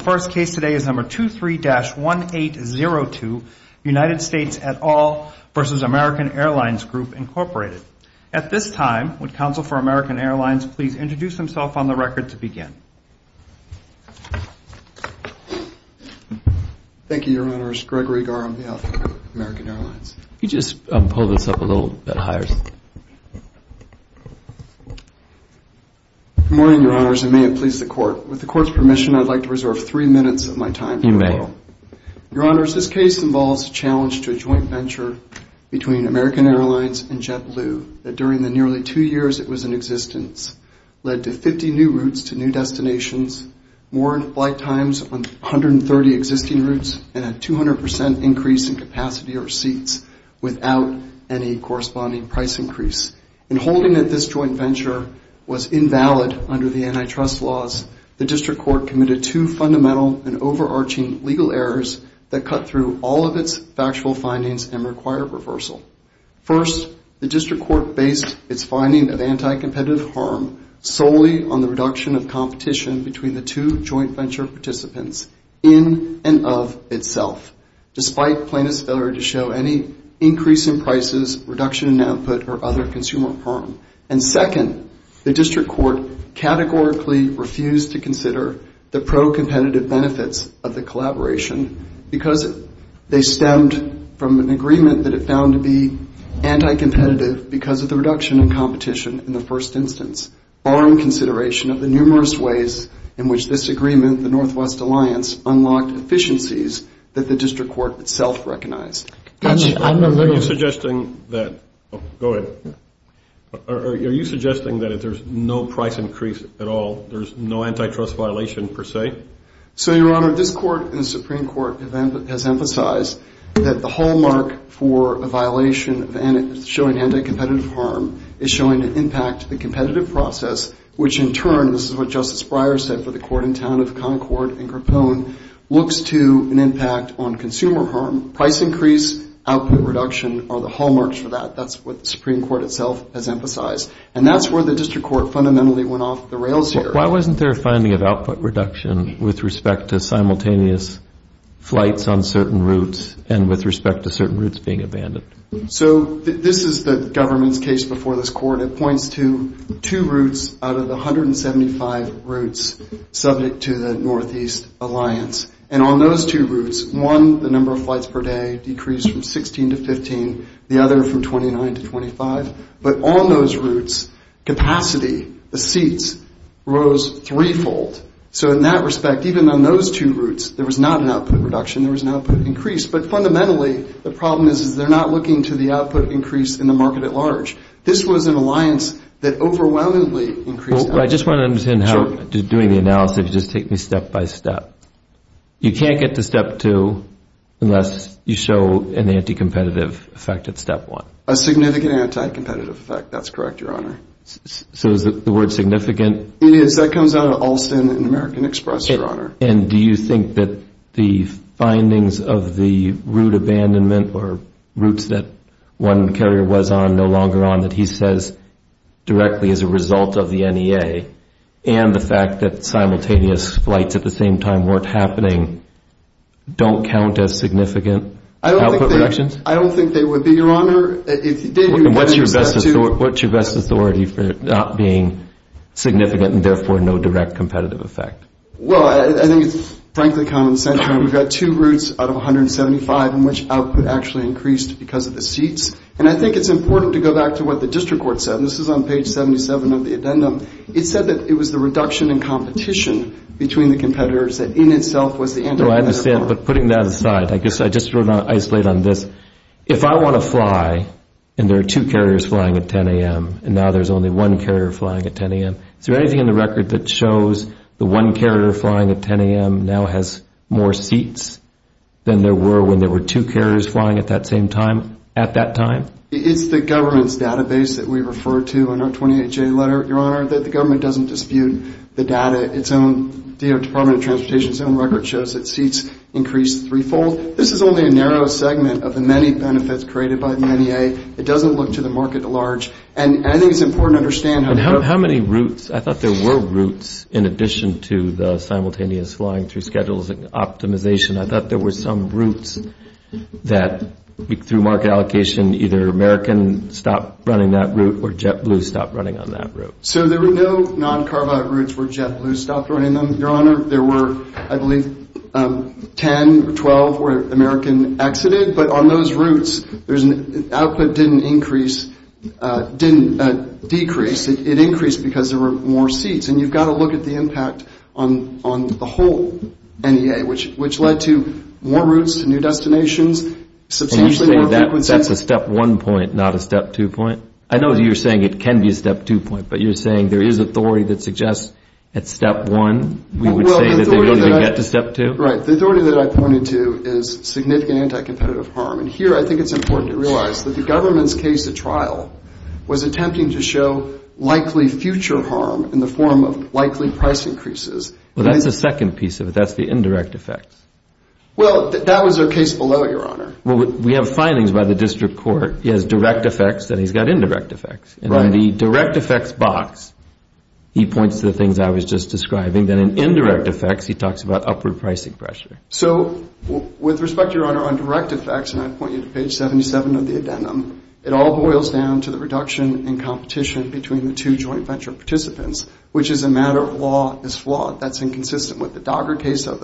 The first case today is No. 23-1802, United States et al. v. American Airlines Group Inc. At this time, would Counsel for American Airlines please introduce himself on the record to begin? Thank you, Your Honors. Gregory Garr on behalf of American Airlines. If you could just pull this up a little bit higher. Good morning, Your Honors, and may it please the Court. You may. Your Honors, this case involves a challenge to a joint venture between American Airlines and JetBlue that during the nearly two years it was in existence led to 50 new routes to new destinations, more flight times on 130 existing routes, and a 200 percent increase in capacity or seats without any corresponding price increase. In holding that this joint venture was invalid under the antitrust laws, the District Court committed two fundamental and overarching legal errors that cut through all of its factual findings and required reversal. First, the District Court based its finding of anti-competitive harm solely on the reduction of competition between the two joint venture participants in and of itself, despite plaintiff's failure to show any increase in prices, reduction in output, or other consumer harm. And second, the District Court categorically refused to consider the pro-competitive benefits of the collaboration because they stemmed from an agreement that it found to be anti-competitive because of the reduction in competition in the first instance, barring consideration of the numerous ways in which this agreement, the Northwest Alliance, unlocked efficiencies that the District Court itself recognized. I'm a little... Are you suggesting that... Oh, go ahead. Are you suggesting that if there's no price increase at all, there's no antitrust violation per se? So, Your Honor, this Court and the Supreme Court has emphasized that the hallmark for a violation of showing anti-competitive harm is showing an impact to the competitive process, which in turn, this is what Justice Breyer said for the court in town of Concord and increased output reduction are the hallmarks for that. That's what the Supreme Court itself has emphasized. And that's where the District Court fundamentally went off the rails here. Why wasn't there a finding of output reduction with respect to simultaneous flights on certain routes and with respect to certain routes being abandoned? So this is the government's case before this Court. It points to two routes out of the 175 routes subject to the Northeast Alliance. And on those two routes, one, the number of flights per day decreased from 16 to 15, the other from 29 to 25. But on those routes, capacity, the seats, rose threefold. So in that respect, even on those two routes, there was not an output reduction, there was an output increase. But fundamentally, the problem is, is they're not looking to the output increase in the market at large. This was an alliance that overwhelmingly increased... But I just want to understand how, doing the analysis, just take me step by step. You can't get to step two unless you show an anti-competitive effect at step one. A significant anti-competitive effect. That's correct, Your Honor. So is the word significant? It is. That comes out of Alston and American Express, Your Honor. And do you think that the findings of the route abandonment or routes that one carrier was on, no longer on, that he says directly is a result of the NEA, and the fact that simultaneous flights at the same time weren't happening, don't count as significant output reductions? I don't think they would be, Your Honor. And what's your best authority for it not being significant and therefore no direct competitive effect? Well, I think it's frankly common sense. We've got two routes out of 175 in which output actually increased because of the seats. And I think it's important to go back to what the district court said. This is on page 77 of the addendum. It said that it was the reduction in competition between the competitors that in itself was the anti-competitive part. No, I understand. But putting that aside, I guess I just want to isolate on this. If I want to fly and there are two carriers flying at 10 a.m. and now there's only one carrier flying at 10 a.m., is there anything in the record that shows the one carrier flying at 10 a.m. now has more seats than there were when there were two carriers flying at that same time at that time? It's the government's database that we refer to in our 28-J letter, Your Honor, that the government doesn't dispute the data. Its own Department of Transportation's own record shows that seats increased threefold. This is only a narrow segment of the many benefits created by the NEA. It doesn't look to the market at large. And I think it's important to understand how many routes. I thought there were routes in addition to the simultaneous flying through schedules and optimization. I thought there were some routes that, through market allocation, either American stopped running that route or JetBlue stopped running on that route. So there were no non-carbide routes where JetBlue stopped running them, Your Honor. There were, I believe, 10 or 12 where American exited. But on those routes, output didn't increase, didn't decrease. It increased because there were more seats. And you've got to look at the impact on the whole NEA, which led to more routes to new destinations, substantially more frequency. And you say that's a step one point, not a step two point? I know you're saying it can be a step two point, but you're saying there is authority that suggests at step one we would say that they don't even get to step two? Right. The authority that I pointed to is significant anti-competitive harm. And here I think it's important to realize that the government's case at trial was attempting to show likely future harm in the form of likely price increases. Well, that's the second piece of it. That's the indirect effects. Well, that was their case below, Your Honor. We have findings by the district court. He has direct effects, then he's got indirect effects. Right. And in the direct effects box, he points to the things I was just describing. Then in indirect effects, he talks about upward pricing pressure. So with respect, Your Honor, on direct effects, and I point you to page 77 of the addendum, it all boils down to the reduction in competition between the two joint venture participants, which as a matter of law is flawed. That's inconsistent with the Dogger case of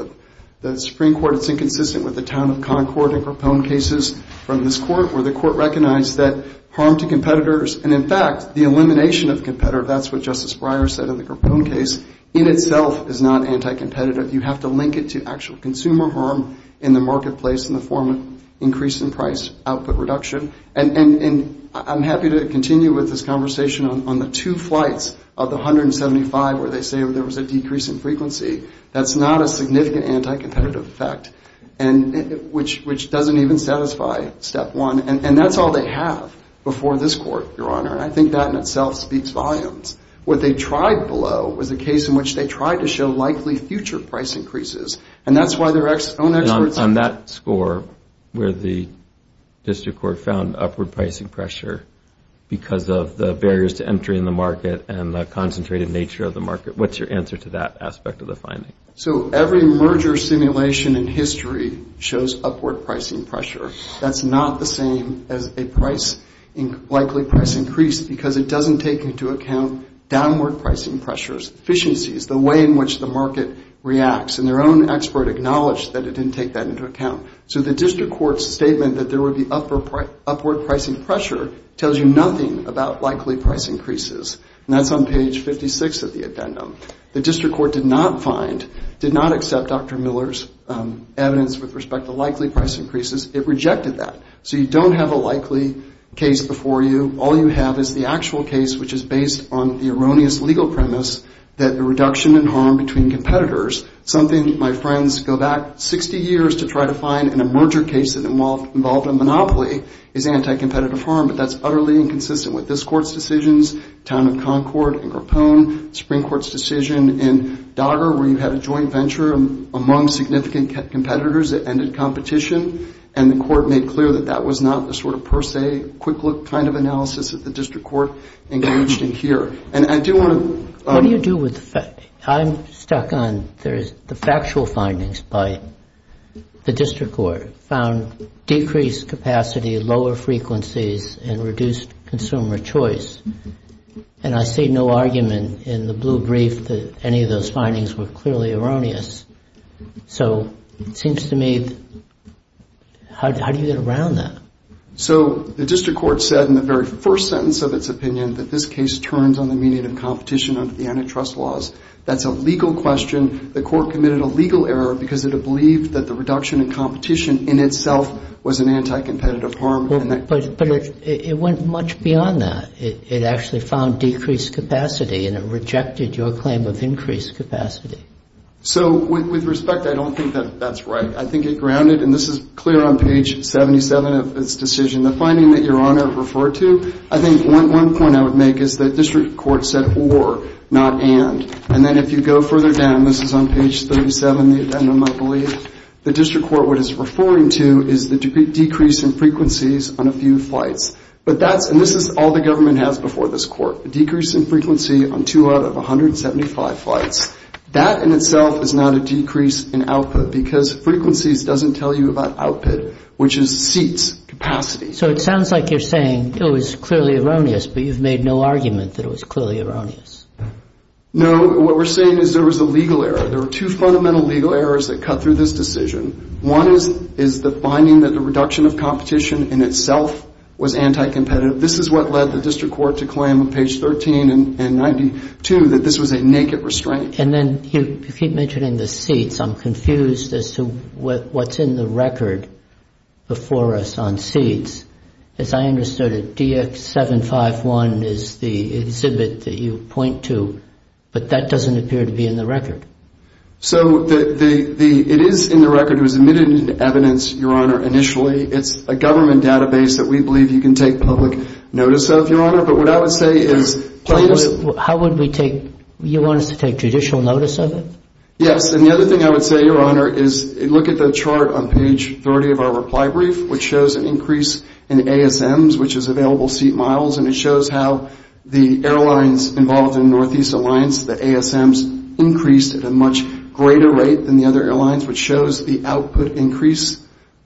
the Supreme Court. It's inconsistent with the town of Concord and Grappone cases from this court where the court recognized that harm to competitors, and in fact, the elimination of competitors, that's what Justice Breyer said in the Grappone case, in itself is not anti-competitive. You have to link it to actual consumer harm in the marketplace in the form of increase in price, output reduction, and I'm happy to continue with this conversation on the two flights of the 175 where they say there was a decrease in frequency. That's not a significant anti-competitive effect, which doesn't even satisfy step one, and that's all they have before this court, Your Honor, and I think that in itself speaks volumes. What they tried below was a case in which they tried to show likely future price increases, and that's why their own experts... On that score where the district court found upward pricing pressure because of the barriers to entry in the market and the concentrated nature of the market, what's your answer to that aspect of the finding? So every merger simulation in history shows upward pricing pressure. That's not the same as a likely price increase because it doesn't take into account downward pricing pressures, efficiencies, the way in which the market reacts, and their own expert acknowledged that it didn't take that into account. So the district court's statement that there would be upward pricing pressure tells you nothing about likely price increases, and that's on page 56 of the addendum. The district court did not find, did not accept Dr. Miller's evidence with respect to likely price increases. It rejected that. So you don't have a likely case before you. All you have is the actual case, which is based on the erroneous legal premise that the reduction in harm between competitors, something my friends go back 60 years to try to find in a merger case that involved a monopoly, is anti-competitive harm, but that's utterly inconsistent with this court's decisions, Town of Concord and Grappone, Supreme Court's decision in Dager where you had a joint venture among significant competitors that ended competition, and the court made clear that that was not the sort of per se, quick look kind of analysis that the district court engaged in here. And I do want to... What do you do with the fact, I'm stuck on the factual findings by the district court found decreased capacity, lower frequencies, and reduced consumer choice. And I see no argument in the blue brief that any of those findings were clearly erroneous. So it seems to me, how do you get around that? So the district court said in the very first sentence of its opinion that this case turns on the meaning of competition under the antitrust laws. That's a legal question. The court committed a legal error because it had believed that the reduction in competition in itself was an anti-competitive harm. But it went much beyond that. It actually found decreased capacity and it rejected your claim of increased capacity. So with respect, I don't think that that's right. I think it grounded, and this is clear on page 77 of its decision, the finding that Your Honor referred to, I think one point I would make is that district court said or, not and. And then if you go further down, this is on page 37 of the addendum, I believe, the district court, what it's referring to is the decrease in frequencies on a few flights. But that's... And this is all the government has before this court, a decrease in frequency on two out of 175 flights. That in itself is not a decrease in output because frequencies doesn't tell you about output, which is seats, capacity. So it sounds like you're saying it was clearly erroneous, but you've made no argument that it was clearly erroneous. No. What we're saying is there was a legal error. There were two fundamental legal errors that cut through this decision. One is the finding that the reduction of competition in itself was anti-competitive. But this is what led the district court to claim on page 13 and 92 that this was a naked restraint. And then you keep mentioning the seats. I'm confused as to what's in the record before us on seats. As I understood it, DX751 is the exhibit that you point to, but that doesn't appear to be in the record. So it is in the record. It was admitted into evidence, Your Honor, initially. It's a government database that we believe you can take public notice of, Your Honor. But what I would say is... How would we take... You want us to take judicial notice of it? Yes. And the other thing I would say, Your Honor, is look at the chart on page 30 of our reply brief, which shows an increase in ASMs, which is available seat miles, and it shows how the airlines involved in Northeast Alliance, the ASMs, increased at a much greater rate than the other airlines, which shows the output increase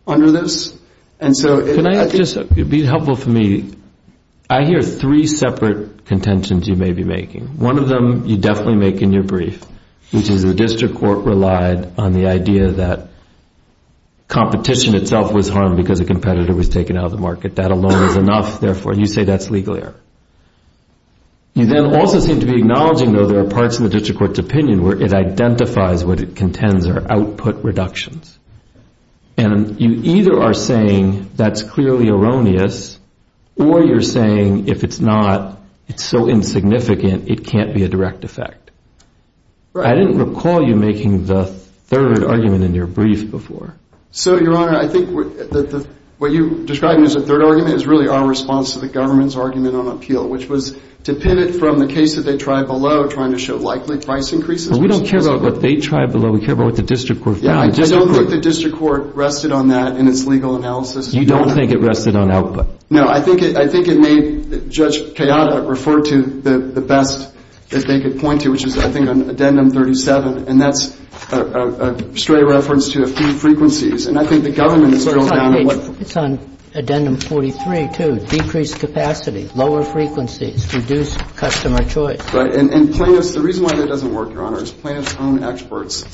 under this. And so... Can I just... It would be helpful for me... I hear three separate contentions you may be making. One of them you definitely make in your brief, which is the district court relied on the idea that competition itself was harmed because a competitor was taken out of the market. That alone is enough. Therefore, you say that's legal error. And where it identifies what it contends are output reductions. And you either are saying that's clearly erroneous, or you're saying if it's not, it's so insignificant, it can't be a direct effect. I didn't recall you making the third argument in your brief before. So Your Honor, I think what you described as a third argument is really our response to the government's argument on appeal, which was to pin it from the case that they tried below, trying to show likely price increases. But we don't care about what they tried below, we care about what the district court found. Yeah, I don't think the district court rested on that in its legal analysis. You don't think it rested on output? No. I think it made Judge Kayada refer to the best that they could point to, which is, I think, on Addendum 37. And that's a stray reference to a few frequencies. And I think the government is going down on what... It's on page... It's on Addendum 43, too. Decreased capacity, lower frequencies, reduced customer choice. Right? And plaintiffs... The reason why that doesn't work, Your Honor, is plaintiffs' own experts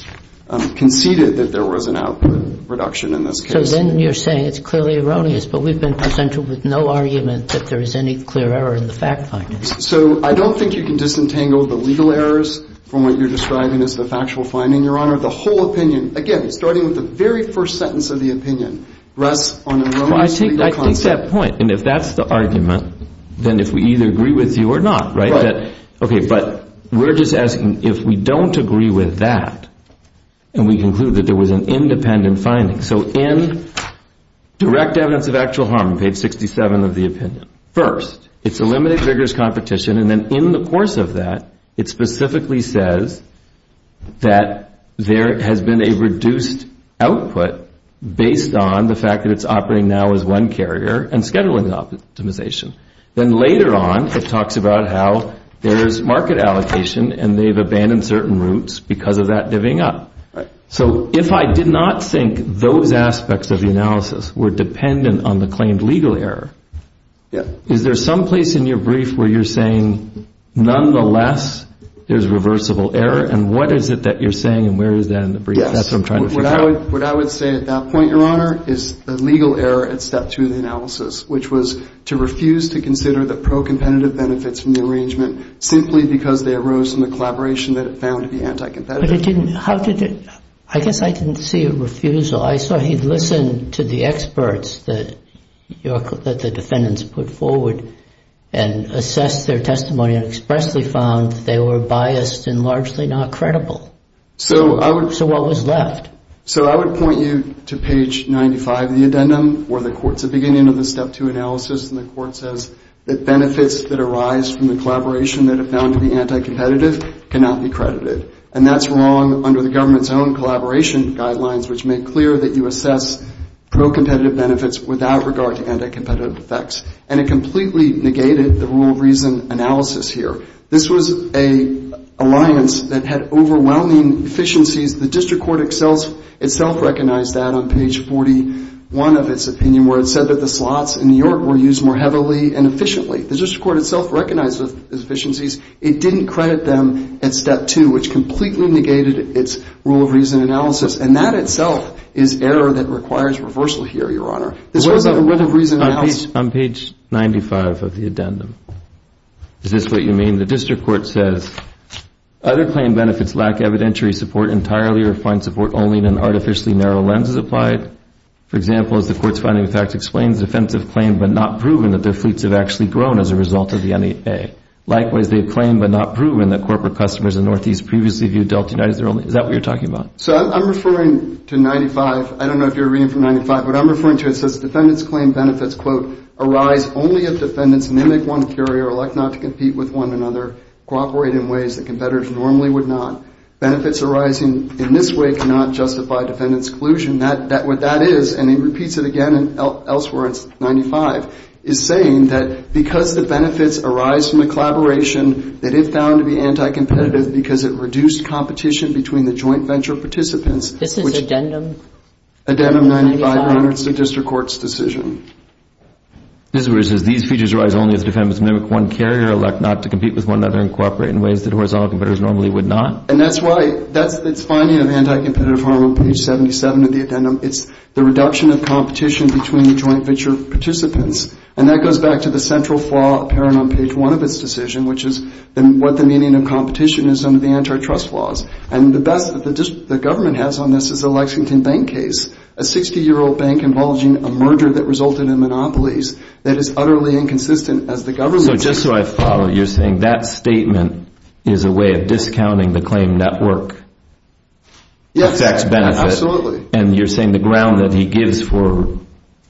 conceded that there was an output reduction in this case. So then you're saying it's clearly erroneous, but we've been presented with no argument that there is any clear error in the fact finding. So I don't think you can disentangle the legal errors from what you're describing as the factual finding, Your Honor. The whole opinion, again, starting with the very first sentence of the opinion, rests on an erroneous legal concept. Well, I take that point. And if that's the argument, then if we either agree with you or not, right? Okay, but we're just asking if we don't agree with that, and we conclude that there was an independent finding. So in Direct Evidence of Actual Harm, page 67 of the opinion, first, it's a limited vigorous competition. And then in the course of that, it specifically says that there has been a reduced output based on the fact that it's operating now as one carrier and scheduling optimization. Then later on, it talks about how there's market allocation, and they've abandoned certain routes because of that divvying up. So if I did not think those aspects of the analysis were dependent on the claimed legal error, is there some place in your brief where you're saying, nonetheless, there's reversible error? And what is it that you're saying, and where is that in the brief? That's what I'm trying to figure out. What I would say at that point, Your Honor, is the legal error had stepped through the that pro-competitive benefits from the arrangement simply because they arose from the collaboration that it found to be anti-competitive. But it didn't. How did it? I guess I didn't see a refusal. I saw he listened to the experts that the defendants put forward and assessed their testimony and expressly found that they were biased and largely not credible. So what was left? So I would point you to page 95 of the addendum, where the court's at the beginning of the step two analysis, and the court says that benefits that arise from the collaboration that it found to be anti-competitive cannot be credited. And that's wrong under the government's own collaboration guidelines, which make clear that you assess pro-competitive benefits without regard to anti-competitive effects. And it completely negated the rule of reason analysis here. This was an alliance that had overwhelming efficiencies. The district court itself recognized that on page 41 of its opinion, where it said that the slots in New York were used more heavily and efficiently, the district court itself recognized those efficiencies. It didn't credit them at step two, which completely negated its rule of reason analysis. And that itself is error that requires reversal here, Your Honor. This was a rule of reason analysis. On page 95 of the addendum, is this what you mean? The district court says, other claim benefits lack evidentiary support entirely or find support only in an artificially narrow lens as applied. For example, as the court's finding of fact explains, defense have claimed but not proven that their fleets have actually grown as a result of the NEA. Likewise, they've claimed but not proven that corporate customers in Northeast previously viewed Delta United as their only... Is that what you're talking about? So I'm referring to 95. I don't know if you're reading from 95. What I'm referring to, it says defendants claim benefits, quote, arise only if defendants mimic one carrier, elect not to compete with one another, cooperate in ways that competitors normally would not. Benefits arising in this way cannot justify defendants' collusion. What that is, and he repeats it again elsewhere, it's 95, is saying that because the benefits arise from the collaboration that it found to be anti-competitive because it reduced competition between the joint venture participants. This is addendum? Addendum 95, Your Honor. It's the district court's decision. This is where it says, these features arise only if defendants mimic one carrier, elect not to compete with one another, and cooperate in ways that horizontal competitors normally would not. And that's why, that's its finding of anti-competitive harm on page 77 of the addendum. It's the reduction of competition between the joint venture participants. And that goes back to the central flaw apparent on page one of its decision, which is what the meaning of competition is under the antitrust laws. And the best that the government has on this is a Lexington Bank case, a 60-year-old bank involving a merger that resulted in monopolies that is utterly inconsistent as the government... is a way of discounting the claim network effects benefit. And you're saying the ground that he gives for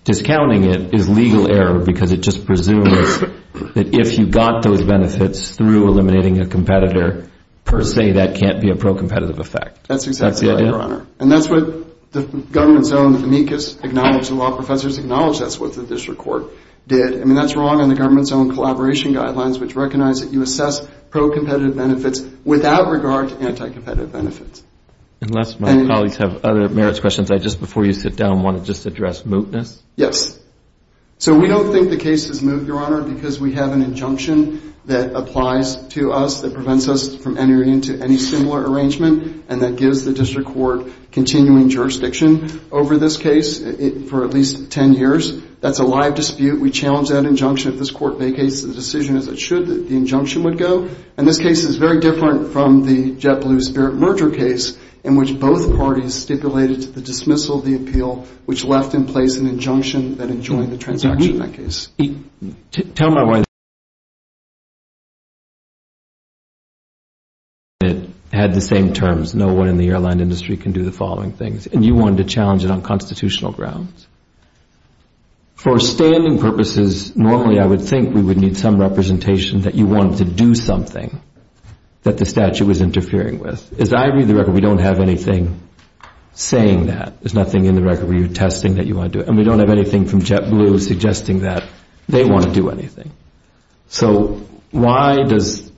discounting it is legal error because it just presumes that if you got those benefits through eliminating a competitor, per se, that can't be a pro-competitive effect. That's exactly right, Your Honor. And that's what the government's own amicus acknowledged, the law professors acknowledged that's what the district court did. I mean, that's wrong in the government's own collaboration guidelines, which recognize that you assess pro-competitive benefits without regard to anti-competitive benefits. Unless my colleagues have other merits questions, I just, before you sit down, want to just address mootness. Yes. So, we don't think the case is moot, Your Honor, because we have an injunction that applies to us that prevents us from entering into any similar arrangement and that gives the district court continuing jurisdiction over this case for at least 10 years. That's a live dispute. We challenge that injunction. If this court vacates, the decision is that it should, that the injunction would go. And this case is very different from the JetBlue Spirit merger case in which both parties stipulated to the dismissal of the appeal, which left in place an injunction that enjoined the transaction of that case. Tell my wife that you wanted to challenge it, had the same terms, no one in the airline industry can do the following things, and you wanted to challenge it on constitutional grounds. For standing purposes, normally I would think we would need some representation that you wanted to do something that the statute was interfering with. As I read the record, we don't have anything saying that. There's nothing in the record where you're attesting that you want to do it. And we don't have anything from JetBlue suggesting that they want to do anything. So why does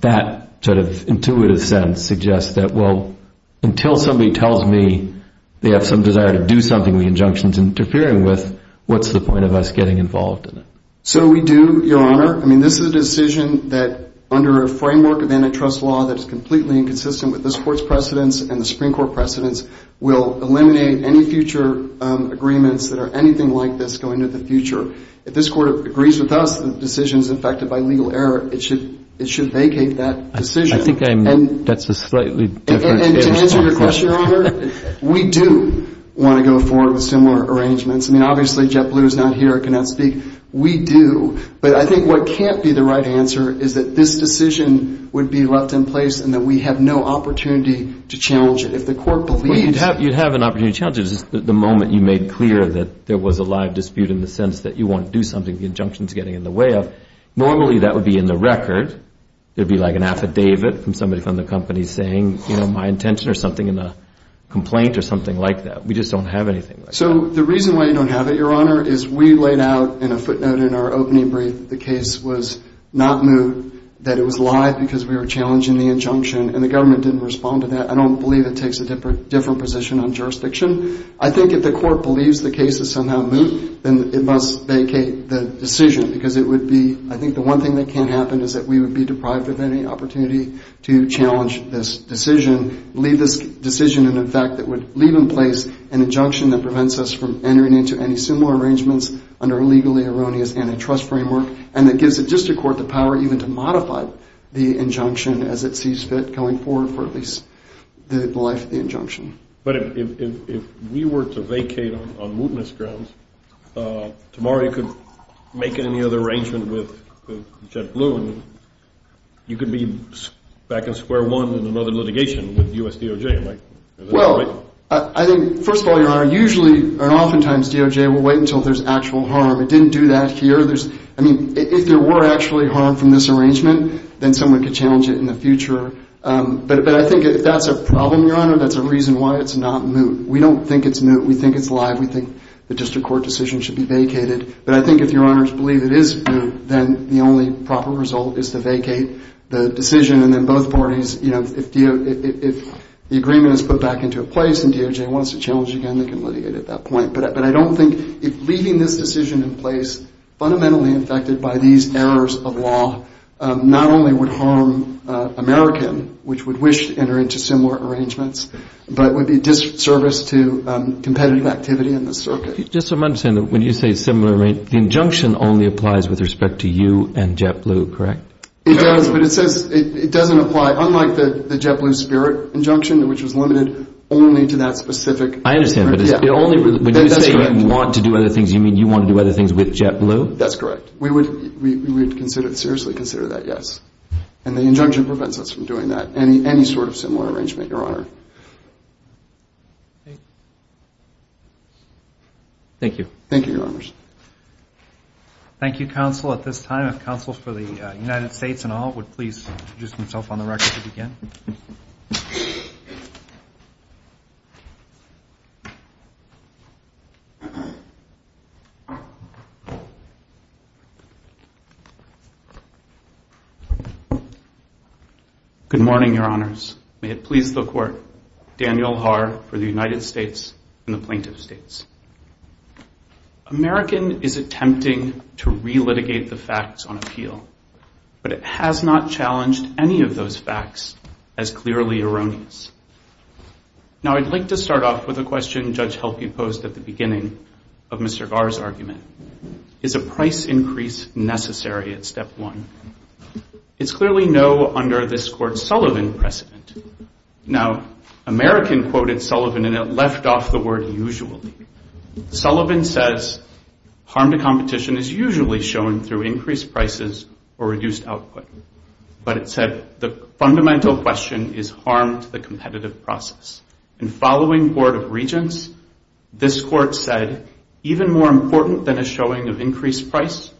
that sort of intuitive sense suggest that, well, until somebody tells me they have some desire to do something, the injunction's interfering with, what's the point of us getting involved in it? So we do, Your Honor. I mean, this is a decision that, under a framework of antitrust law that is completely inconsistent with this Court's precedents and the Supreme Court precedents, will eliminate any future agreements that are anything like this going into the future. If this Court agrees with us that the decision's infected by legal error, it should vacate that decision. I think I'm, that's a slightly different response. And to answer your question, Your Honor, we do want to go forward with similar arrangements. I mean, obviously, JetBlue is not here. I cannot speak. We do. But I think what can't be the right answer is that this decision would be left in place and that we have no opportunity to challenge it. If the Court believes... Well, you'd have an opportunity to challenge it, just the moment you made clear that there was a live dispute in the sense that you want to do something, the injunction's getting in the way of. Normally, that would be in the record. It would be like an affidavit from somebody from the company saying, you know, my intention or something in a complaint or something like that. We just don't have anything like that. So the reason why you don't have it, Your Honor, is we laid out in a footnote in our opening brief that the case was not moot, that it was live because we were challenging the injunction, and the government didn't respond to that. I don't believe it takes a different position on jurisdiction. I think if the Court believes the case is somehow moot, then it must vacate the decision because it would be... I think the one thing that can't happen is that we would be deprived of any opportunity to challenge this decision, leave this decision, and in fact, it would leave in place an injunction that prevents us from entering into any similar arrangements under a legally erroneous antitrust framework and that gives the District Court the power even to modify the injunction as it sees fit going forward for at least the life of the injunction. But if we were to vacate on mootness grounds, tomorrow you could make any other arrangement with JetBlue and you could be back in square one in another litigation with U.S. DOJ, right? Well, I think, first of all, Your Honor, usually and oftentimes DOJ will wait until there's actual harm. It didn't do that here. I mean, if there were actually harm from this arrangement, then someone could challenge it in the future. But I think if that's a problem, Your Honor, that's a reason why it's not moot. We don't think it's moot. We think it's live. We think the District Court decision should be vacated. But I think if Your Honors believe it is moot, then the only proper result is to vacate the decision and then both parties, you know, if the agreement is put back into place and DOJ wants to challenge it again, they can litigate at that point. But I don't think if leaving this decision in place, fundamentally affected by these errors of law, not only would harm American, which would wish to enter into similar arrangements, but would be disservice to competitive activity in the circuit. Just so I'm understanding, when you say similar arrangement, the injunction only applies with respect to you and JetBlue, correct? It does, but it says it doesn't apply, unlike the JetBlue spirit injunction, which was limited only to that specific. I understand, but it's only when you say you want to do other things, you mean you want to do other things with JetBlue? That's correct. We would seriously consider that yes. And the injunction prevents us from doing that, any sort of similar arrangement, Your Honor. Thank you. Thank you, Your Honors. Thank you, Counsel. At this time, if Counsel for the United States and all would please introduce themselves on the record to begin. Good morning, Your Honors. May it please the Court. Daniel Haar for the United States and the Plaintiff's States. American is attempting to re-litigate the facts on appeal, but it has not challenged any of those facts as clearly erroneous. Now, I'd like to start off with a question Judge Helke posed at the beginning of Mr. Sullivan's case, is this increase necessary at step one? It's clearly no under this Court's Sullivan precedent. Now, American quoted Sullivan, and it left off the word usually. Sullivan says, harm to competition is usually shown through increased prices or reduced output. But it said, the fundamental question is harm to the competitive process. And following Board of Regents, this Court said, even more important than a showing of price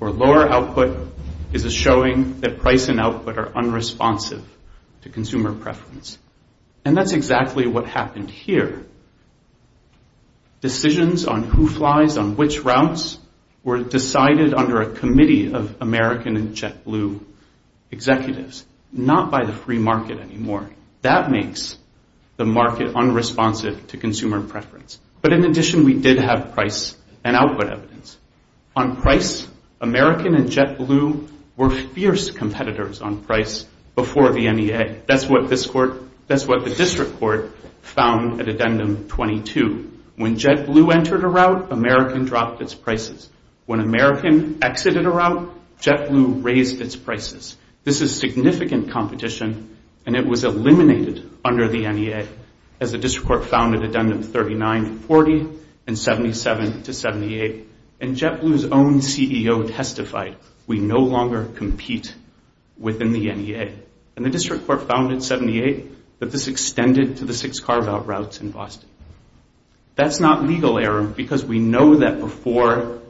or lower output is a showing that price and output are unresponsive to consumer preference. And that's exactly what happened here. Decisions on who flies on which routes were decided under a committee of American and JetBlue executives, not by the free market anymore. That makes the market unresponsive to consumer preference. But in addition, we did have price and output evidence. On price, American and JetBlue were fierce competitors on price before the NEA. That's what the district court found at addendum 22. When JetBlue entered a route, American dropped its prices. When American exited a route, JetBlue raised its prices. This is significant competition, and it was eliminated under the NEA as the district court found at addendum 39-40 and 77-78. And JetBlue's own CEO testified, we no longer compete within the NEA. And the district court found in 78 that this extended to the six carve-out routes in Boston. That's not legal error, because we know that before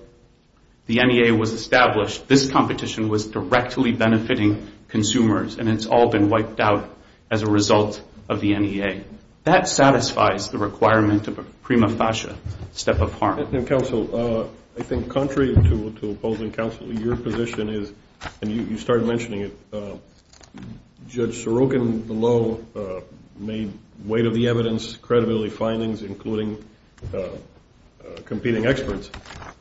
the NEA was established, this competition was directly benefiting consumers. And it's all been wiped out as a result of the NEA. That satisfies the requirement of a prima facie step of harm. Counsel, I think contrary to opposing counsel, your position is, and you started mentioning it, Judge Sorokin below made weight of the evidence, credibility findings, including competing experts.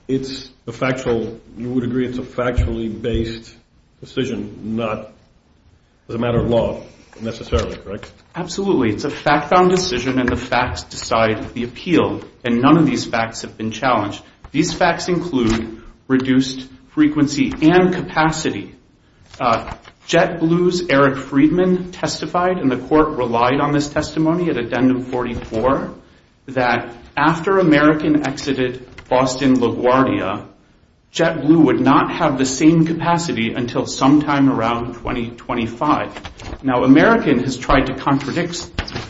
It's a factual, you would agree it's a factually based decision, not as a matter of law necessarily, right? Absolutely. It's a fact-bound decision, and the facts decide the appeal. And none of these facts have been challenged. These facts include reduced frequency and capacity. JetBlue's Eric Friedman testified, and the court relied on this testimony at addendum 44, that after American exited Boston LaGuardia, JetBlue would not have the same capacity until sometime around 2025. Now, American has tried to contradict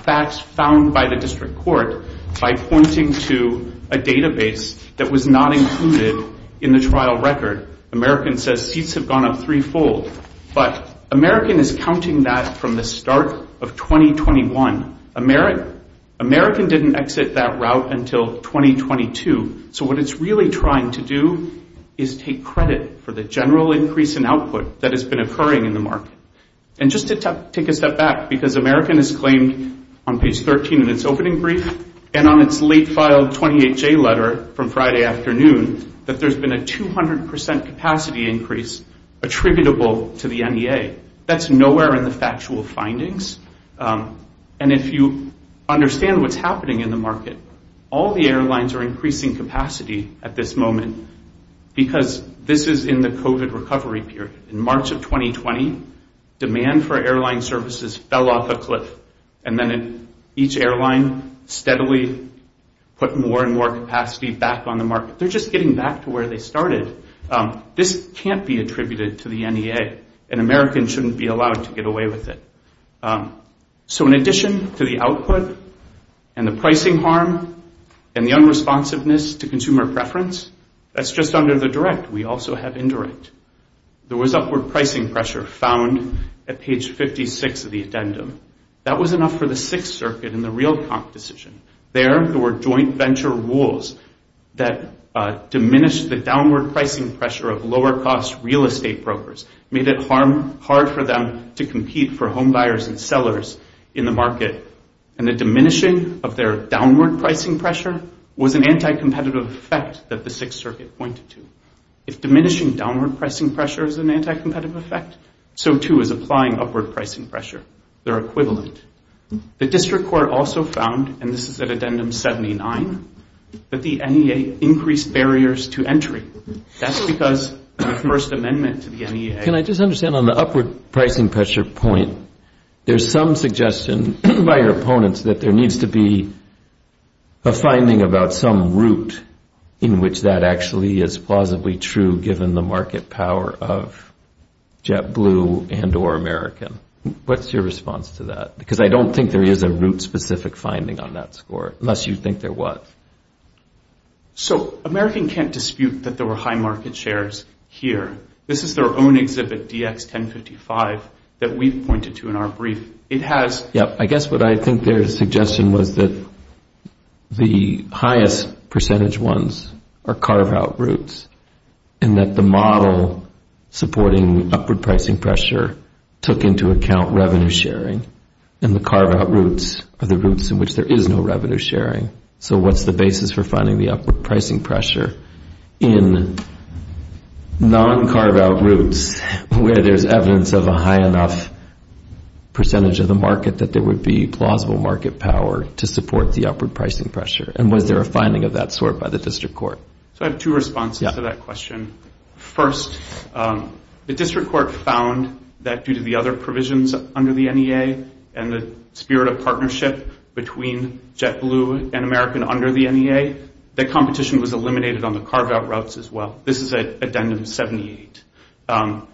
facts found by the district court by pointing to a database that was not included in the trial record. American says seats have gone up threefold. But American is counting that from the start of 2021. American didn't exit that route until 2022. So what it's really trying to do is take credit for the general increase in output that has been occurring in the market. And just to take a step back, because American has claimed on page 13 in its opening brief, and on its late filed 28J letter from Friday afternoon, that there's been a 200% capacity increase attributable to the NEA. That's nowhere in the factual findings. And if you understand what's happening in the market, all the airlines are increasing capacity at this moment because this is in the COVID recovery period. In March of 2020, demand for airline services fell off a cliff. And then each airline steadily put more and more capacity back on the market. They're just getting back to where they started. This can't be attributed to the NEA. And American shouldn't be allowed to get away with it. So in addition to the output and the pricing harm and the unresponsiveness to consumer preference, that's just under the direct. We also have indirect. There was upward pricing pressure found at page 56 of the addendum. That was enough for the Sixth Circuit in the real comp decision. There, there were joint venture rules that diminished the downward pricing pressure of lower cost real estate brokers. Made it hard for them to compete for home buyers and sellers in the market. And the diminishing of their downward pricing pressure was an anti-competitive effect that the Sixth Circuit pointed to. If diminishing downward pricing pressure is an anti-competitive effect, so too is applying upward pricing pressure. They're equivalent. The district court also found, and this is at addendum 79, that the NEA increased barriers to entry. That's because of the First Amendment to the NEA. Can I just understand, on the upward pricing pressure point, there's some suggestion by your opponents that there needs to be a finding about some route in which that actually is plausibly true, given the market power of JetBlue and or American. What's your response to that? Because I don't think there is a route-specific finding on that score, unless you think there was. So American can't dispute that there were high market shares here. This is their own exhibit, DX1055, that we've pointed to in our brief. It has... Yeah, I guess what I think their suggestion was that the highest percentage ones are carve-out routes, and that the model supporting upward pricing pressure took into account revenue sharing. And the carve-out routes are the routes in which there is no revenue sharing. So what's the basis for finding the upward pricing pressure in non-carve-out routes, where there's evidence of a high enough percentage of the market that there would be plausible market power to support the upward pricing pressure? And was there a finding of that sort by the district court? So I have two responses to that question. First, the district court found that due to the other provisions under the NEA, and the spirit of partnership between JetBlue and American under the NEA, that competition was eliminated on the carve-out routes as well. This is at addendum 78. Now,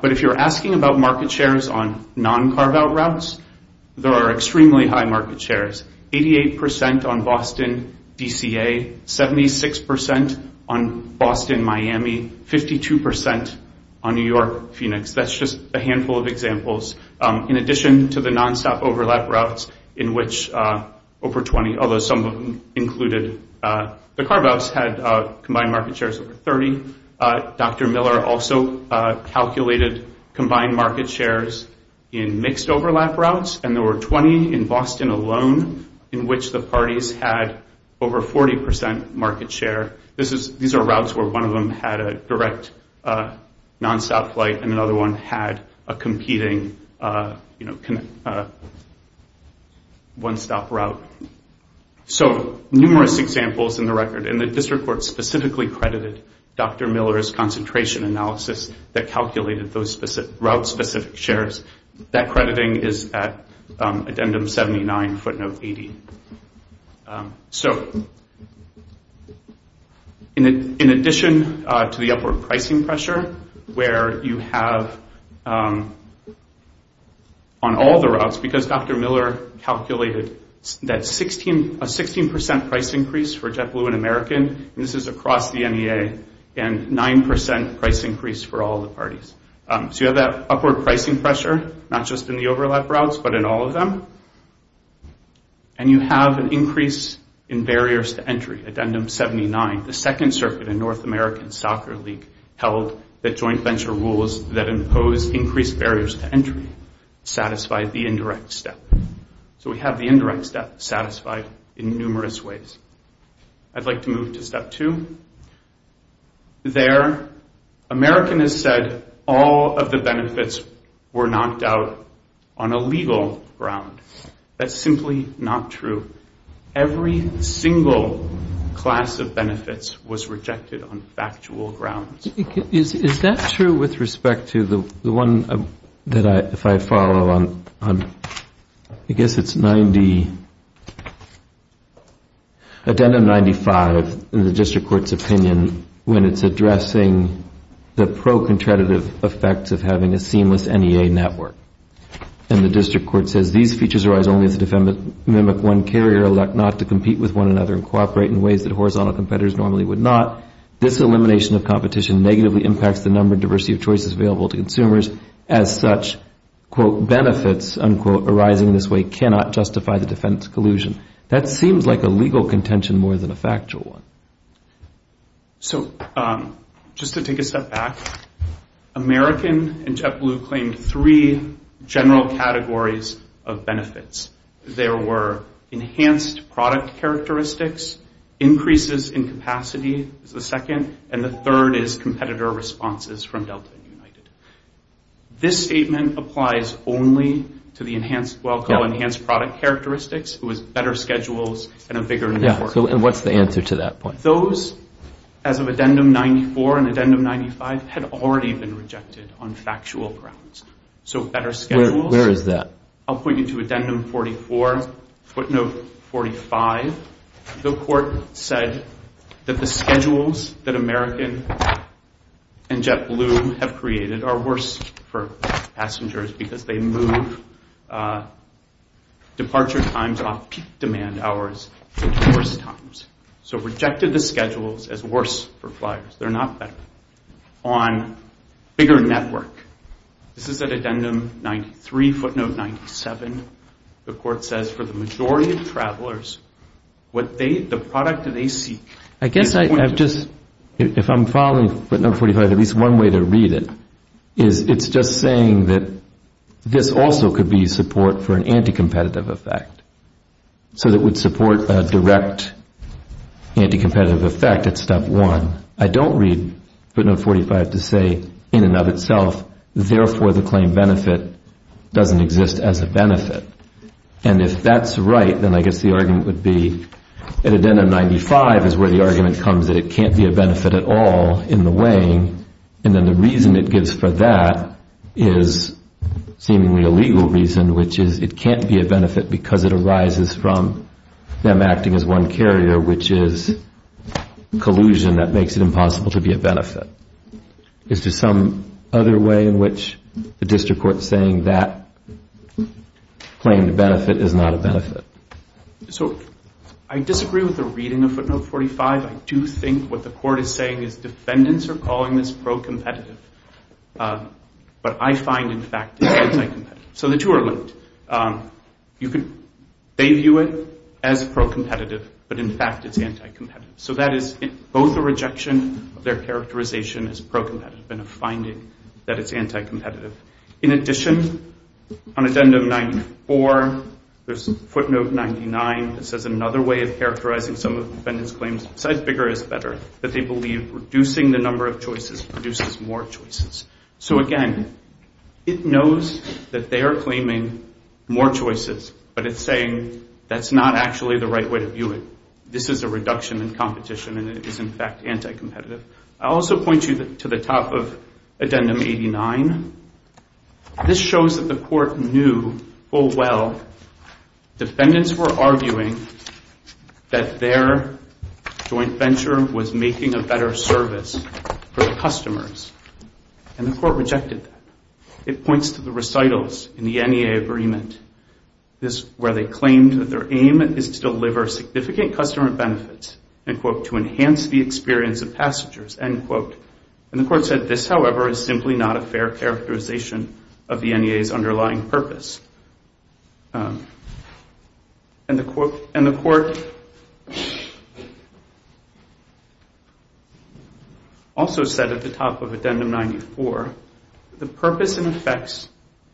but if you're asking about market shares on non-carve-out routes, there are extremely high market shares. 88% on Boston, DCA. 76% on Boston, Miami. That's just a handful of examples. In addition to the non-stop overlap routes, in which over 20, although some of them included, the carve-outs had combined market shares over 30. Dr. Miller also calculated combined market shares in mixed overlap routes. And there were 20 in Boston alone, in which the parties had over 40% market share. These are routes where one of them had a direct non-stop flight, and another one had a competing one-stop route. So, numerous examples in the record. And the district court specifically credited Dr. Miller's concentration analysis that calculated those route-specific shares. That crediting is at addendum 79, footnote 80. In addition to the upward pricing pressure, where you have on all the routes, because Dr. Miller calculated a 16% price increase for JetBlue and American, and this is across the NEA, and 9% price increase for all the parties. So you have that upward pricing pressure, not just in the overlap routes, but in all of them. And you have an increase in barriers to entry, addendum 79. The Second Circuit in North American Soccer League held that joint venture rules that impose increased barriers to entry satisfied the indirect step. So we have the indirect step satisfied in numerous ways. I'd like to move to step two. There, American has said all of the benefits were knocked out on a legal ground. That's simply not true. Every single class of benefits was rejected on factual grounds. Is that true with respect to the one that I, if I follow on, I guess it's 90, addendum 95 in the district court's opinion when it's addressing the pro-contradictive effects of having a seamless NEA network. And the district court says, these features arise only if the defendants mimic one carrier or elect not to compete with one another and cooperate in ways that horizontal competitors normally would not. This elimination of competition negatively impacts the number and diversity of choices available to consumers. As such, quote, benefits, unquote, arising in this way cannot justify the defense collusion. That seems like a legal contention more than a factual one. So, just to take a step back, American and JetBlue claimed three general categories of benefits. There were enhanced product characteristics, increases in capacity is the second, and the third is competitor responses from Delta and United. This statement applies only to the enhanced, well, called enhanced product characteristics, who has better schedules and a bigger network. And what's the answer to that point? Those, as of addendum 94 and addendum 95, had already been rejected on factual grounds. So, better schedules. Where is that? I'll point you to addendum 44. Footnote 45, the court said that the schedules that American and JetBlue have created are worse for passengers because they move departure times off peak demand hours to worse times. So, rejected the schedules as worse for fliers. They're not better. On bigger network. This is at addendum 93, footnote 97. The court says for the majority of travelers, what they, the product that they seek. I guess I have just, if I'm following footnote 45, at least one way to read it, is it's just saying that this also could be support for an anti-competitive effect. So, it would support a direct anti-competitive effect at step one. I don't read footnote 45 to say in and of itself, therefore the claim benefit doesn't exist as a benefit. And if that's right, then I guess the argument would be, at addendum 95 is where the argument comes that it can't be a benefit at all in the weighing. And then the reason it gives for that is seemingly a legal reason, which is it can't be a benefit because it arises from them acting as one carrier, which is collusion that makes it impossible to be a benefit. Is there some other way in which the district court's saying that claim to benefit is not a benefit? So, I disagree with the reading of footnote 45. I do think what the court is saying is defendants are calling this pro-competitive. But I find in fact it's anti-competitive. So the two are linked. They view it as pro-competitive, but in fact it's anti-competitive. So that is both a rejection of their characterization as pro-competitive and a finding that it's anti-competitive. In addition, on addendum 94, there's footnote 99 that says another way of characterizing some of the defendants' claims, besides bigger is better, that they believe reducing the number of choices produces more choices. So again, it knows that they are claiming more choices, but it's saying that's not actually the right way to view it. This is a reduction in competition and it is in fact anti-competitive. I'll also point you to the top of addendum 89. This shows that the court knew full well defendants were arguing that their joint venture was making a better service for the customers. And the court rejected that. It points to the recitals in the NEA agreement where they claimed that their aim is to deliver significant customer benefits to enhance the experience of passengers. And the court said this, however, is simply not a fair characterization of the NEA's underlying purpose. And the court also said at the top of addendum 94, the purpose and effects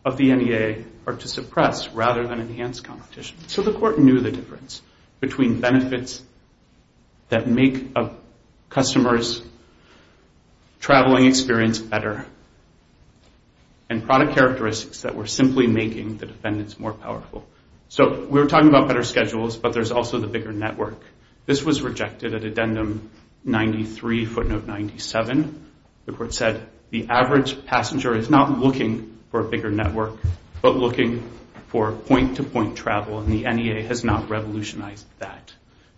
of the NEA are to suppress rather than enhance competition. So the court knew the difference between benefits that make a customer's traveling experience better and product characteristics that were simply making the defendants more powerful. So we're talking about better schedules, but there's also the bigger picture. This was rejected at addendum 93, footnote 97. The court said the average passenger is not looking for a bigger network, but looking for point-to-point travel, and the NEA has not revolutionized that.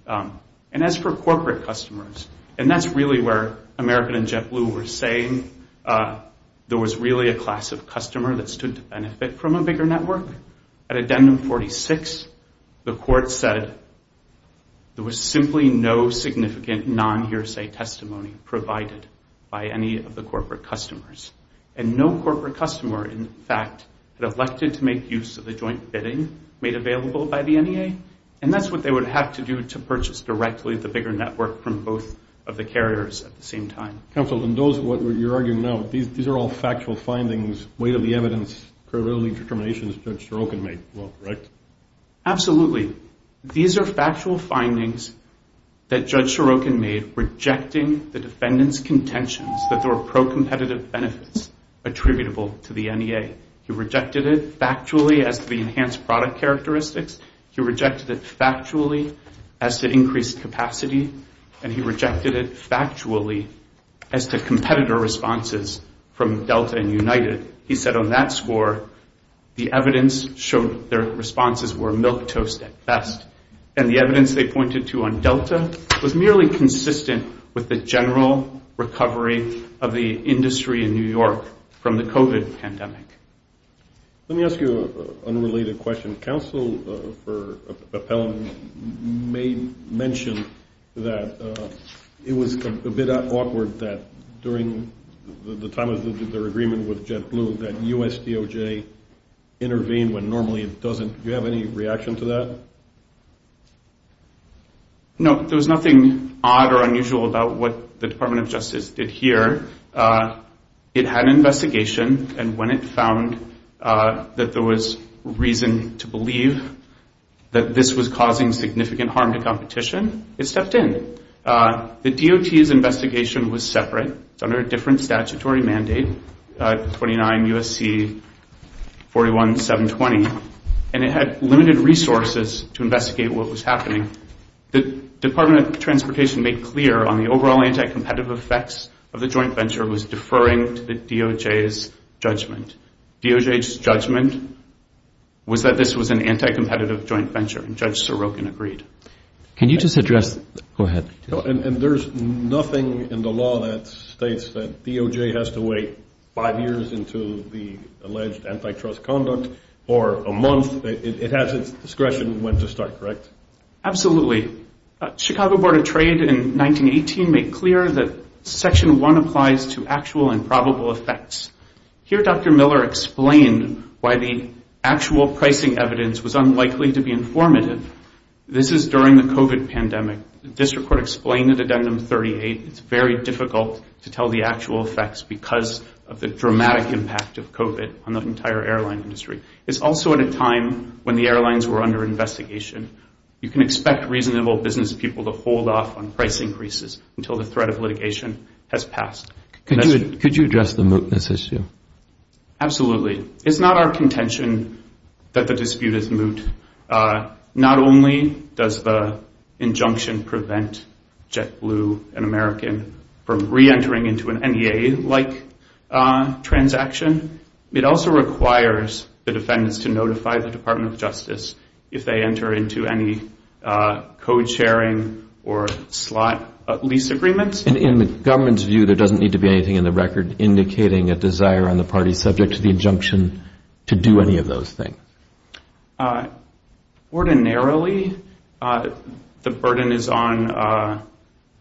And as for corporate customers, and that's really where American and JetBlue were saying there was really a class of customer that stood to benefit from a bigger network. At addendum 46, the court said there was simply no significant non-hearsay testimony provided by any of the corporate customers. And no corporate customer, in fact, had elected to make use of the joint bidding made available by the NEA, and that's what they would have to do to purchase directly the bigger network from both of the carriers at the same time. Counsel, in those, what you're arguing now, these are all factual findings, weight of the evidence, credibility determinations Judge Stroh can make, right? Absolutely. These are factual findings that Judge Stroh can make rejecting the defendant's contentions that there were pro-competitive benefits attributable to the NEA. He rejected it factually as to the enhanced product characteristics, he rejected it factually as to increased capacity, and he rejected it factually as to competitor responses from Delta and United. He said on that score, the evidence showed their responses were milquetoast at best, and the evidence they pointed to on Delta was merely consistent with the general recovery of the industry in New York from the COVID pandemic. Let me ask you an unrelated question. Counsel for Appellant may mention that it was a bit awkward that during the time of their agreement with JetBlue that U.S. DOJ intervened when normally it doesn't. Do you have any reaction to that? No. There was nothing odd or unusual about what the Department of Justice did here. It had an investigation and when it found that there was reason to believe that this was causing significant harm to competition, it stepped in. The DOT's investigation was separate. It's under a different statutory mandate 29 U.S.C. 41-720. And it had limited resources to investigate what was happening. The Department of Transportation made clear on the overall anti-competitive effects of the joint venture was deferring to the DOJ's judgment. DOJ's judgment was that this was an anti-competitive joint venture, and Judge Sorokin agreed. Can you just address... DOJ has to wait five years until the alleged antitrust conduct or a month? It has its discretion when to start, correct? Absolutely. Chicago Board of Trade in 1918 made clear that Section 1 applies to actual and probable effects. Here Dr. Miller explained why the actual pricing evidence was unlikely to be informative. This is during the COVID pandemic. The District Court explained it's very difficult to tell the actual effects because of the dramatic impact of COVID on the entire airline industry. It's also at a time when the airlines were under investigation. You can expect reasonable business people to hold off on price increases until the threat of litigation has passed. Could you address the mootness issue? Absolutely. It's not our contention that the dispute is moot. Not only does the injunction prevent JetBlue and American from re-entering into an NEA-like transaction, it also requires the defendants to notify the Department of Justice if they enter into any code-sharing or slot-lease agreements. In the government's view, there doesn't need to be anything in the record indicating a desire on the party subject to the injunction to do any of those things. Ordinarily, the burden is on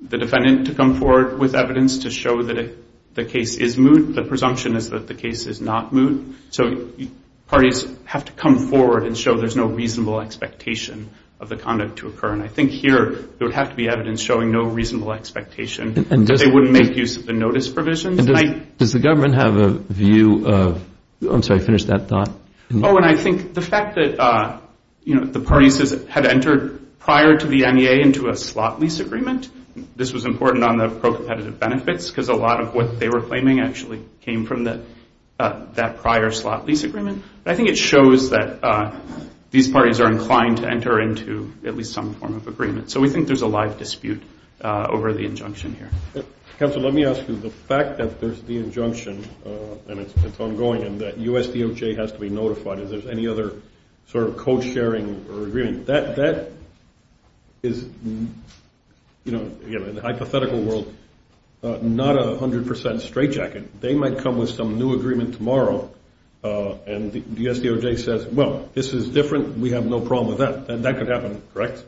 the defendant to come forward with evidence to show that the case is moot. The presumption is that the case is not moot. So parties have to come forward and show there's no reasonable expectation of the conduct to occur. I think here, there would have to be evidence showing no reasonable expectation that they would make use of the notice provisions. Does the government have a view I'm sorry, finish that thought. The fact that the parties had entered prior to the NEA into a slot-lease agreement this was important on the pro-competitive benefits because a lot of what they were claiming actually came from that prior slot-lease agreement. I think it shows that these parties are inclined to enter into at least some form of agreement. So we think there's a live dispute over the injunction here. The fact that there's the injunction and it's ongoing and that USDOJ has to be notified if there's any other sort of co-sharing or agreement that is you know in the hypothetical world not a 100% straight jacket. They might come with some new agreement tomorrow and the USDOJ says well, this is different. We have no problem with that. And that could happen, correct?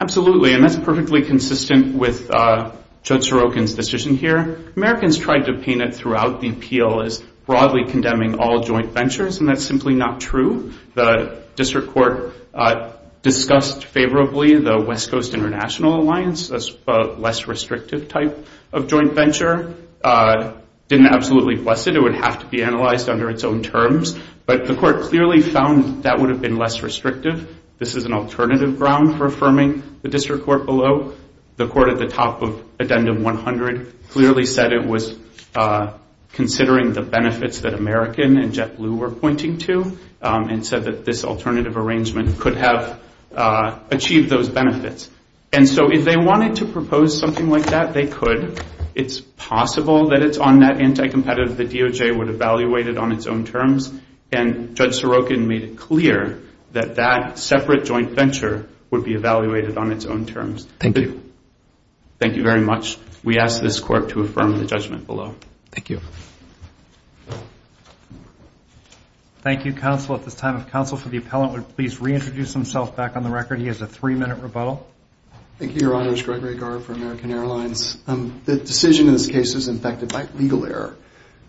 Absolutely, and that's perfectly consistent with Judge Sorokin's decision here. Americans tried to paint it throughout the appeal as broadly condemning all joint ventures and that's simply not true. The district court discussed favorably the West Coast International Alliance as a less restrictive type of joint venture. Didn't absolutely bless it. It would have to be analyzed under its own terms, but the court clearly found that would have been less restrictive. This is an alternative ground for affirming the district court below. The court at the top of Addendum 100 clearly said it was considering the benefits that American and JetBlue were pointing to and said that this alternative arrangement could have achieved those benefits. If they wanted to propose something like that they could. It's possible that it's on that anti-competitive that DOJ would evaluate it on its own terms and Judge Sorokin made it clear that that separate joint venture would be evaluated on its own terms. Thank you. Thank you very much. We ask this court to affirm the judgment below. Thank you. Thank you, counsel. At this time, if counsel for the appellant would please reintroduce himself back on the record. He has a three-minute rebuttal. Thank you, Your Honors. Gregory Gard for American Airlines. The decision in this case is infected by legal error.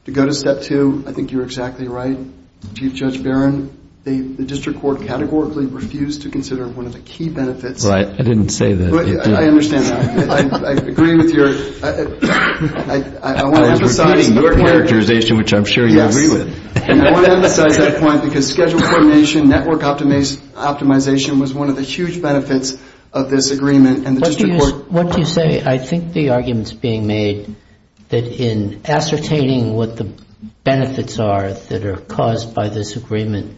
To go to step two, I think you're exactly right. Chief Judge Barron, the district court categorically refused to I understand that. I agree with your I want to emphasize your characterization, which I'm sure you agree with. I want to emphasize that point because schedule coordination, network optimization was one of the huge benefits of this agreement and the district court What do you say? I think the argument is being made that in ascertaining what the benefits are that are caused by this agreement,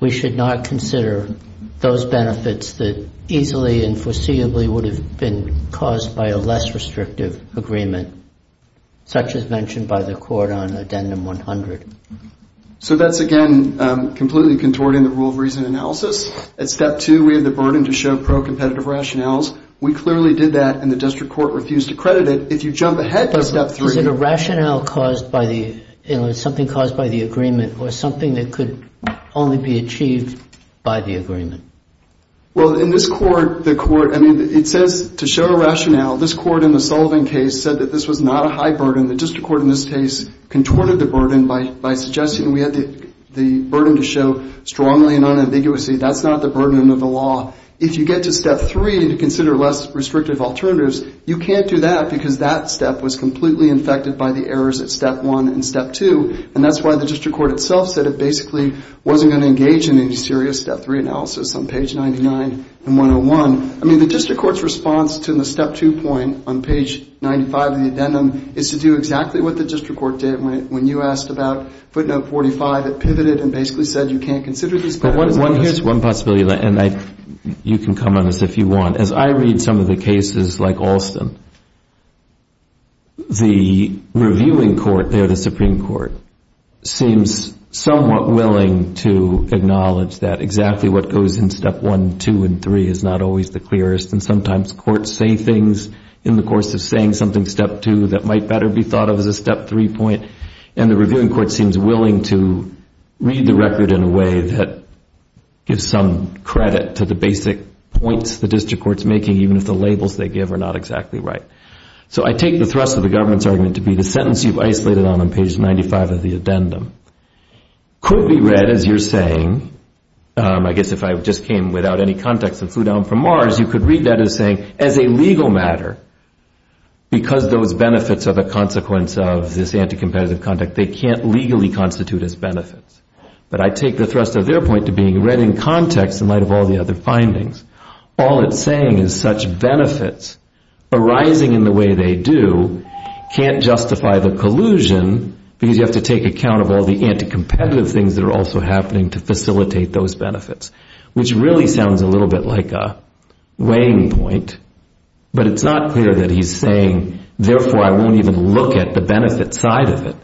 we should not consider those benefits that easily and foreseeably would have been caused by a less restrictive agreement such as mentioned by the court on addendum 100. So that's, again, completely contorting the rule of reason analysis. At step two, we have the burden to show pro-competitive rationales. We clearly did that and the district court refused to credit it. If you jump ahead to step three Is it a rationale caused by the agreement or something that could only be achieved by the agreement? Well, in this court, the court, I mean it says to show a rationale. This court in the Sullivan case said that this was not a high burden. The district court in this case contorted the burden by suggesting we had the burden to show strongly and unambiguously that's not the burden of the law. If you get to step three to consider less restrictive alternatives, you can't do that because that step was completely infected by the errors at step one and step two and that's why the district court itself said it basically wasn't going to engage in any serious step three analysis on page 99 and 101. I mean the district court's response to the step two point on page 95 of the addendum is to do exactly what the district court did when you asked about footnote 45. It pivoted and basically said you can't consider these patterns. Here's one possibility and you can come on this if you want. As I read some of the cases like Alston, the reviewing court there, the Supreme Court, seems somewhat willing to acknowledge that exactly what goes in step one, two, and three is not always the clearest and sometimes courts say things in the course of saying something step two that might better be thought of as a step three point and the reviewing court seems willing to read the record in a way that gives some credit to the basic points the district court's making even if the labels they give are not exactly right. So I take the thrust of the government's argument to be the sentence you've read in the addendum. Could be read as you're saying, I guess if I just came without any context and flew down from Mars, you could read that as saying as a legal matter because those benefits are the consequence of this anti-competitive conduct, they can't legally constitute as benefits. But I take the thrust of their point to being read in context in light of all the other findings. All it's saying is such benefits arising in the way they do can't justify the collusion because you have to take account of all the anti-competitive things that are also happening to facilitate those benefits, which really sounds a little bit like a weighing point, but it's not clear that he's saying, therefore I won't even look at the benefit side of it.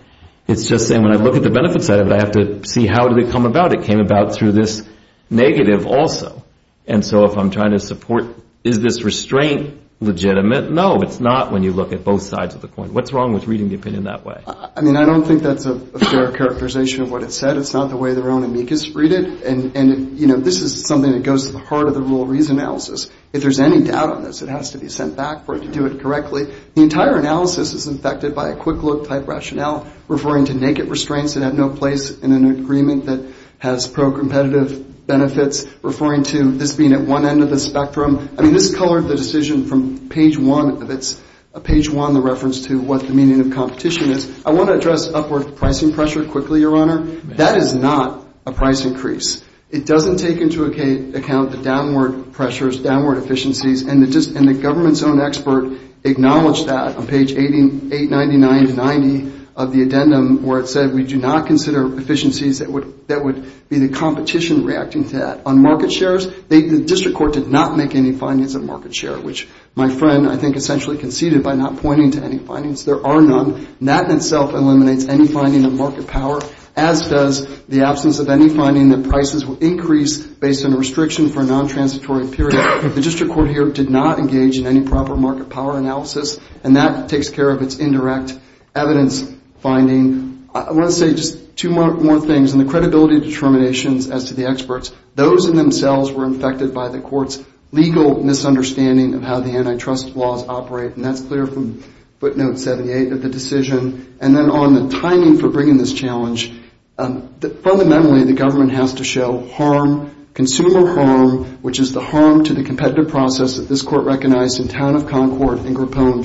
It's just saying when I look at the benefit side of it, I have to see how did it come about. It came about through this negative also. And so if I'm trying to support, is this restraint legitimate? No, it's not when you look at both sides of the coin. What's wrong with reading the opinion that way? I mean, I don't think that's a fair characterization of what it said. It's not the way their own amicus read it. And this is something that goes to the heart of the rule of reason analysis. If there's any doubt on this, it has to be sent back for it to do it correctly. The entire analysis is infected by a quick look type rationale referring to naked restraints that have no place in an agreement that has pro-competitive benefits, referring to this being at one end of the spectrum. I mean, this colored the decision from page one. It's page one, the reference to what the meaning of competition is. I want to address upward pricing pressure quickly, Your Honor. That is not a price increase. It doesn't take into account the downward pressures, downward efficiencies, and the government's own expert acknowledged that on page 899-90 of the addendum where it said we do not consider efficiencies that would be the competition reacting to that. On market shares, the district court did not make any market share, which my friend, I think, essentially conceded by not pointing to any findings. There are none. That in itself eliminates any finding of market power, as does the absence of any finding that prices will increase based on a restriction for a non-transitory period. The district court here did not engage in any proper market power analysis, and that takes care of its indirect evidence finding. I want to say just two more things. In the credibility determinations as to the experts, those in themselves were infected by the court's legal misunderstanding of how the antitrust laws operate, and that's clear from footnote 78 of the decision, and then on the timing for bringing this challenge. Fundamentally, the government has to show harm, consumer harm, which is the harm to the competitive process that this court recognized in town of Concord in Grappone.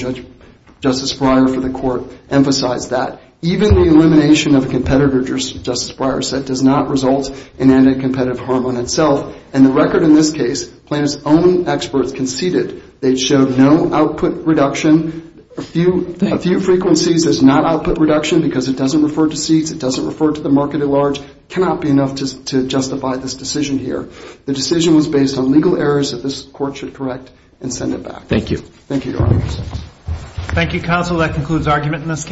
Justice Breyer for the court emphasized that. Even the elimination of a competitor, Justice Breyer said, does not result in any competitive harm on itself, and the record in this case, plaintiff's own experts conceded they'd show no output reduction. A few frequencies as not output reduction because it doesn't refer to seats, it doesn't refer to the market at large, cannot be enough to justify this decision here. The decision was based on legal errors that this court should correct and send it back. Thank you. Thank you, Your Honors. Thank you, Counsel. That concludes argument in this case.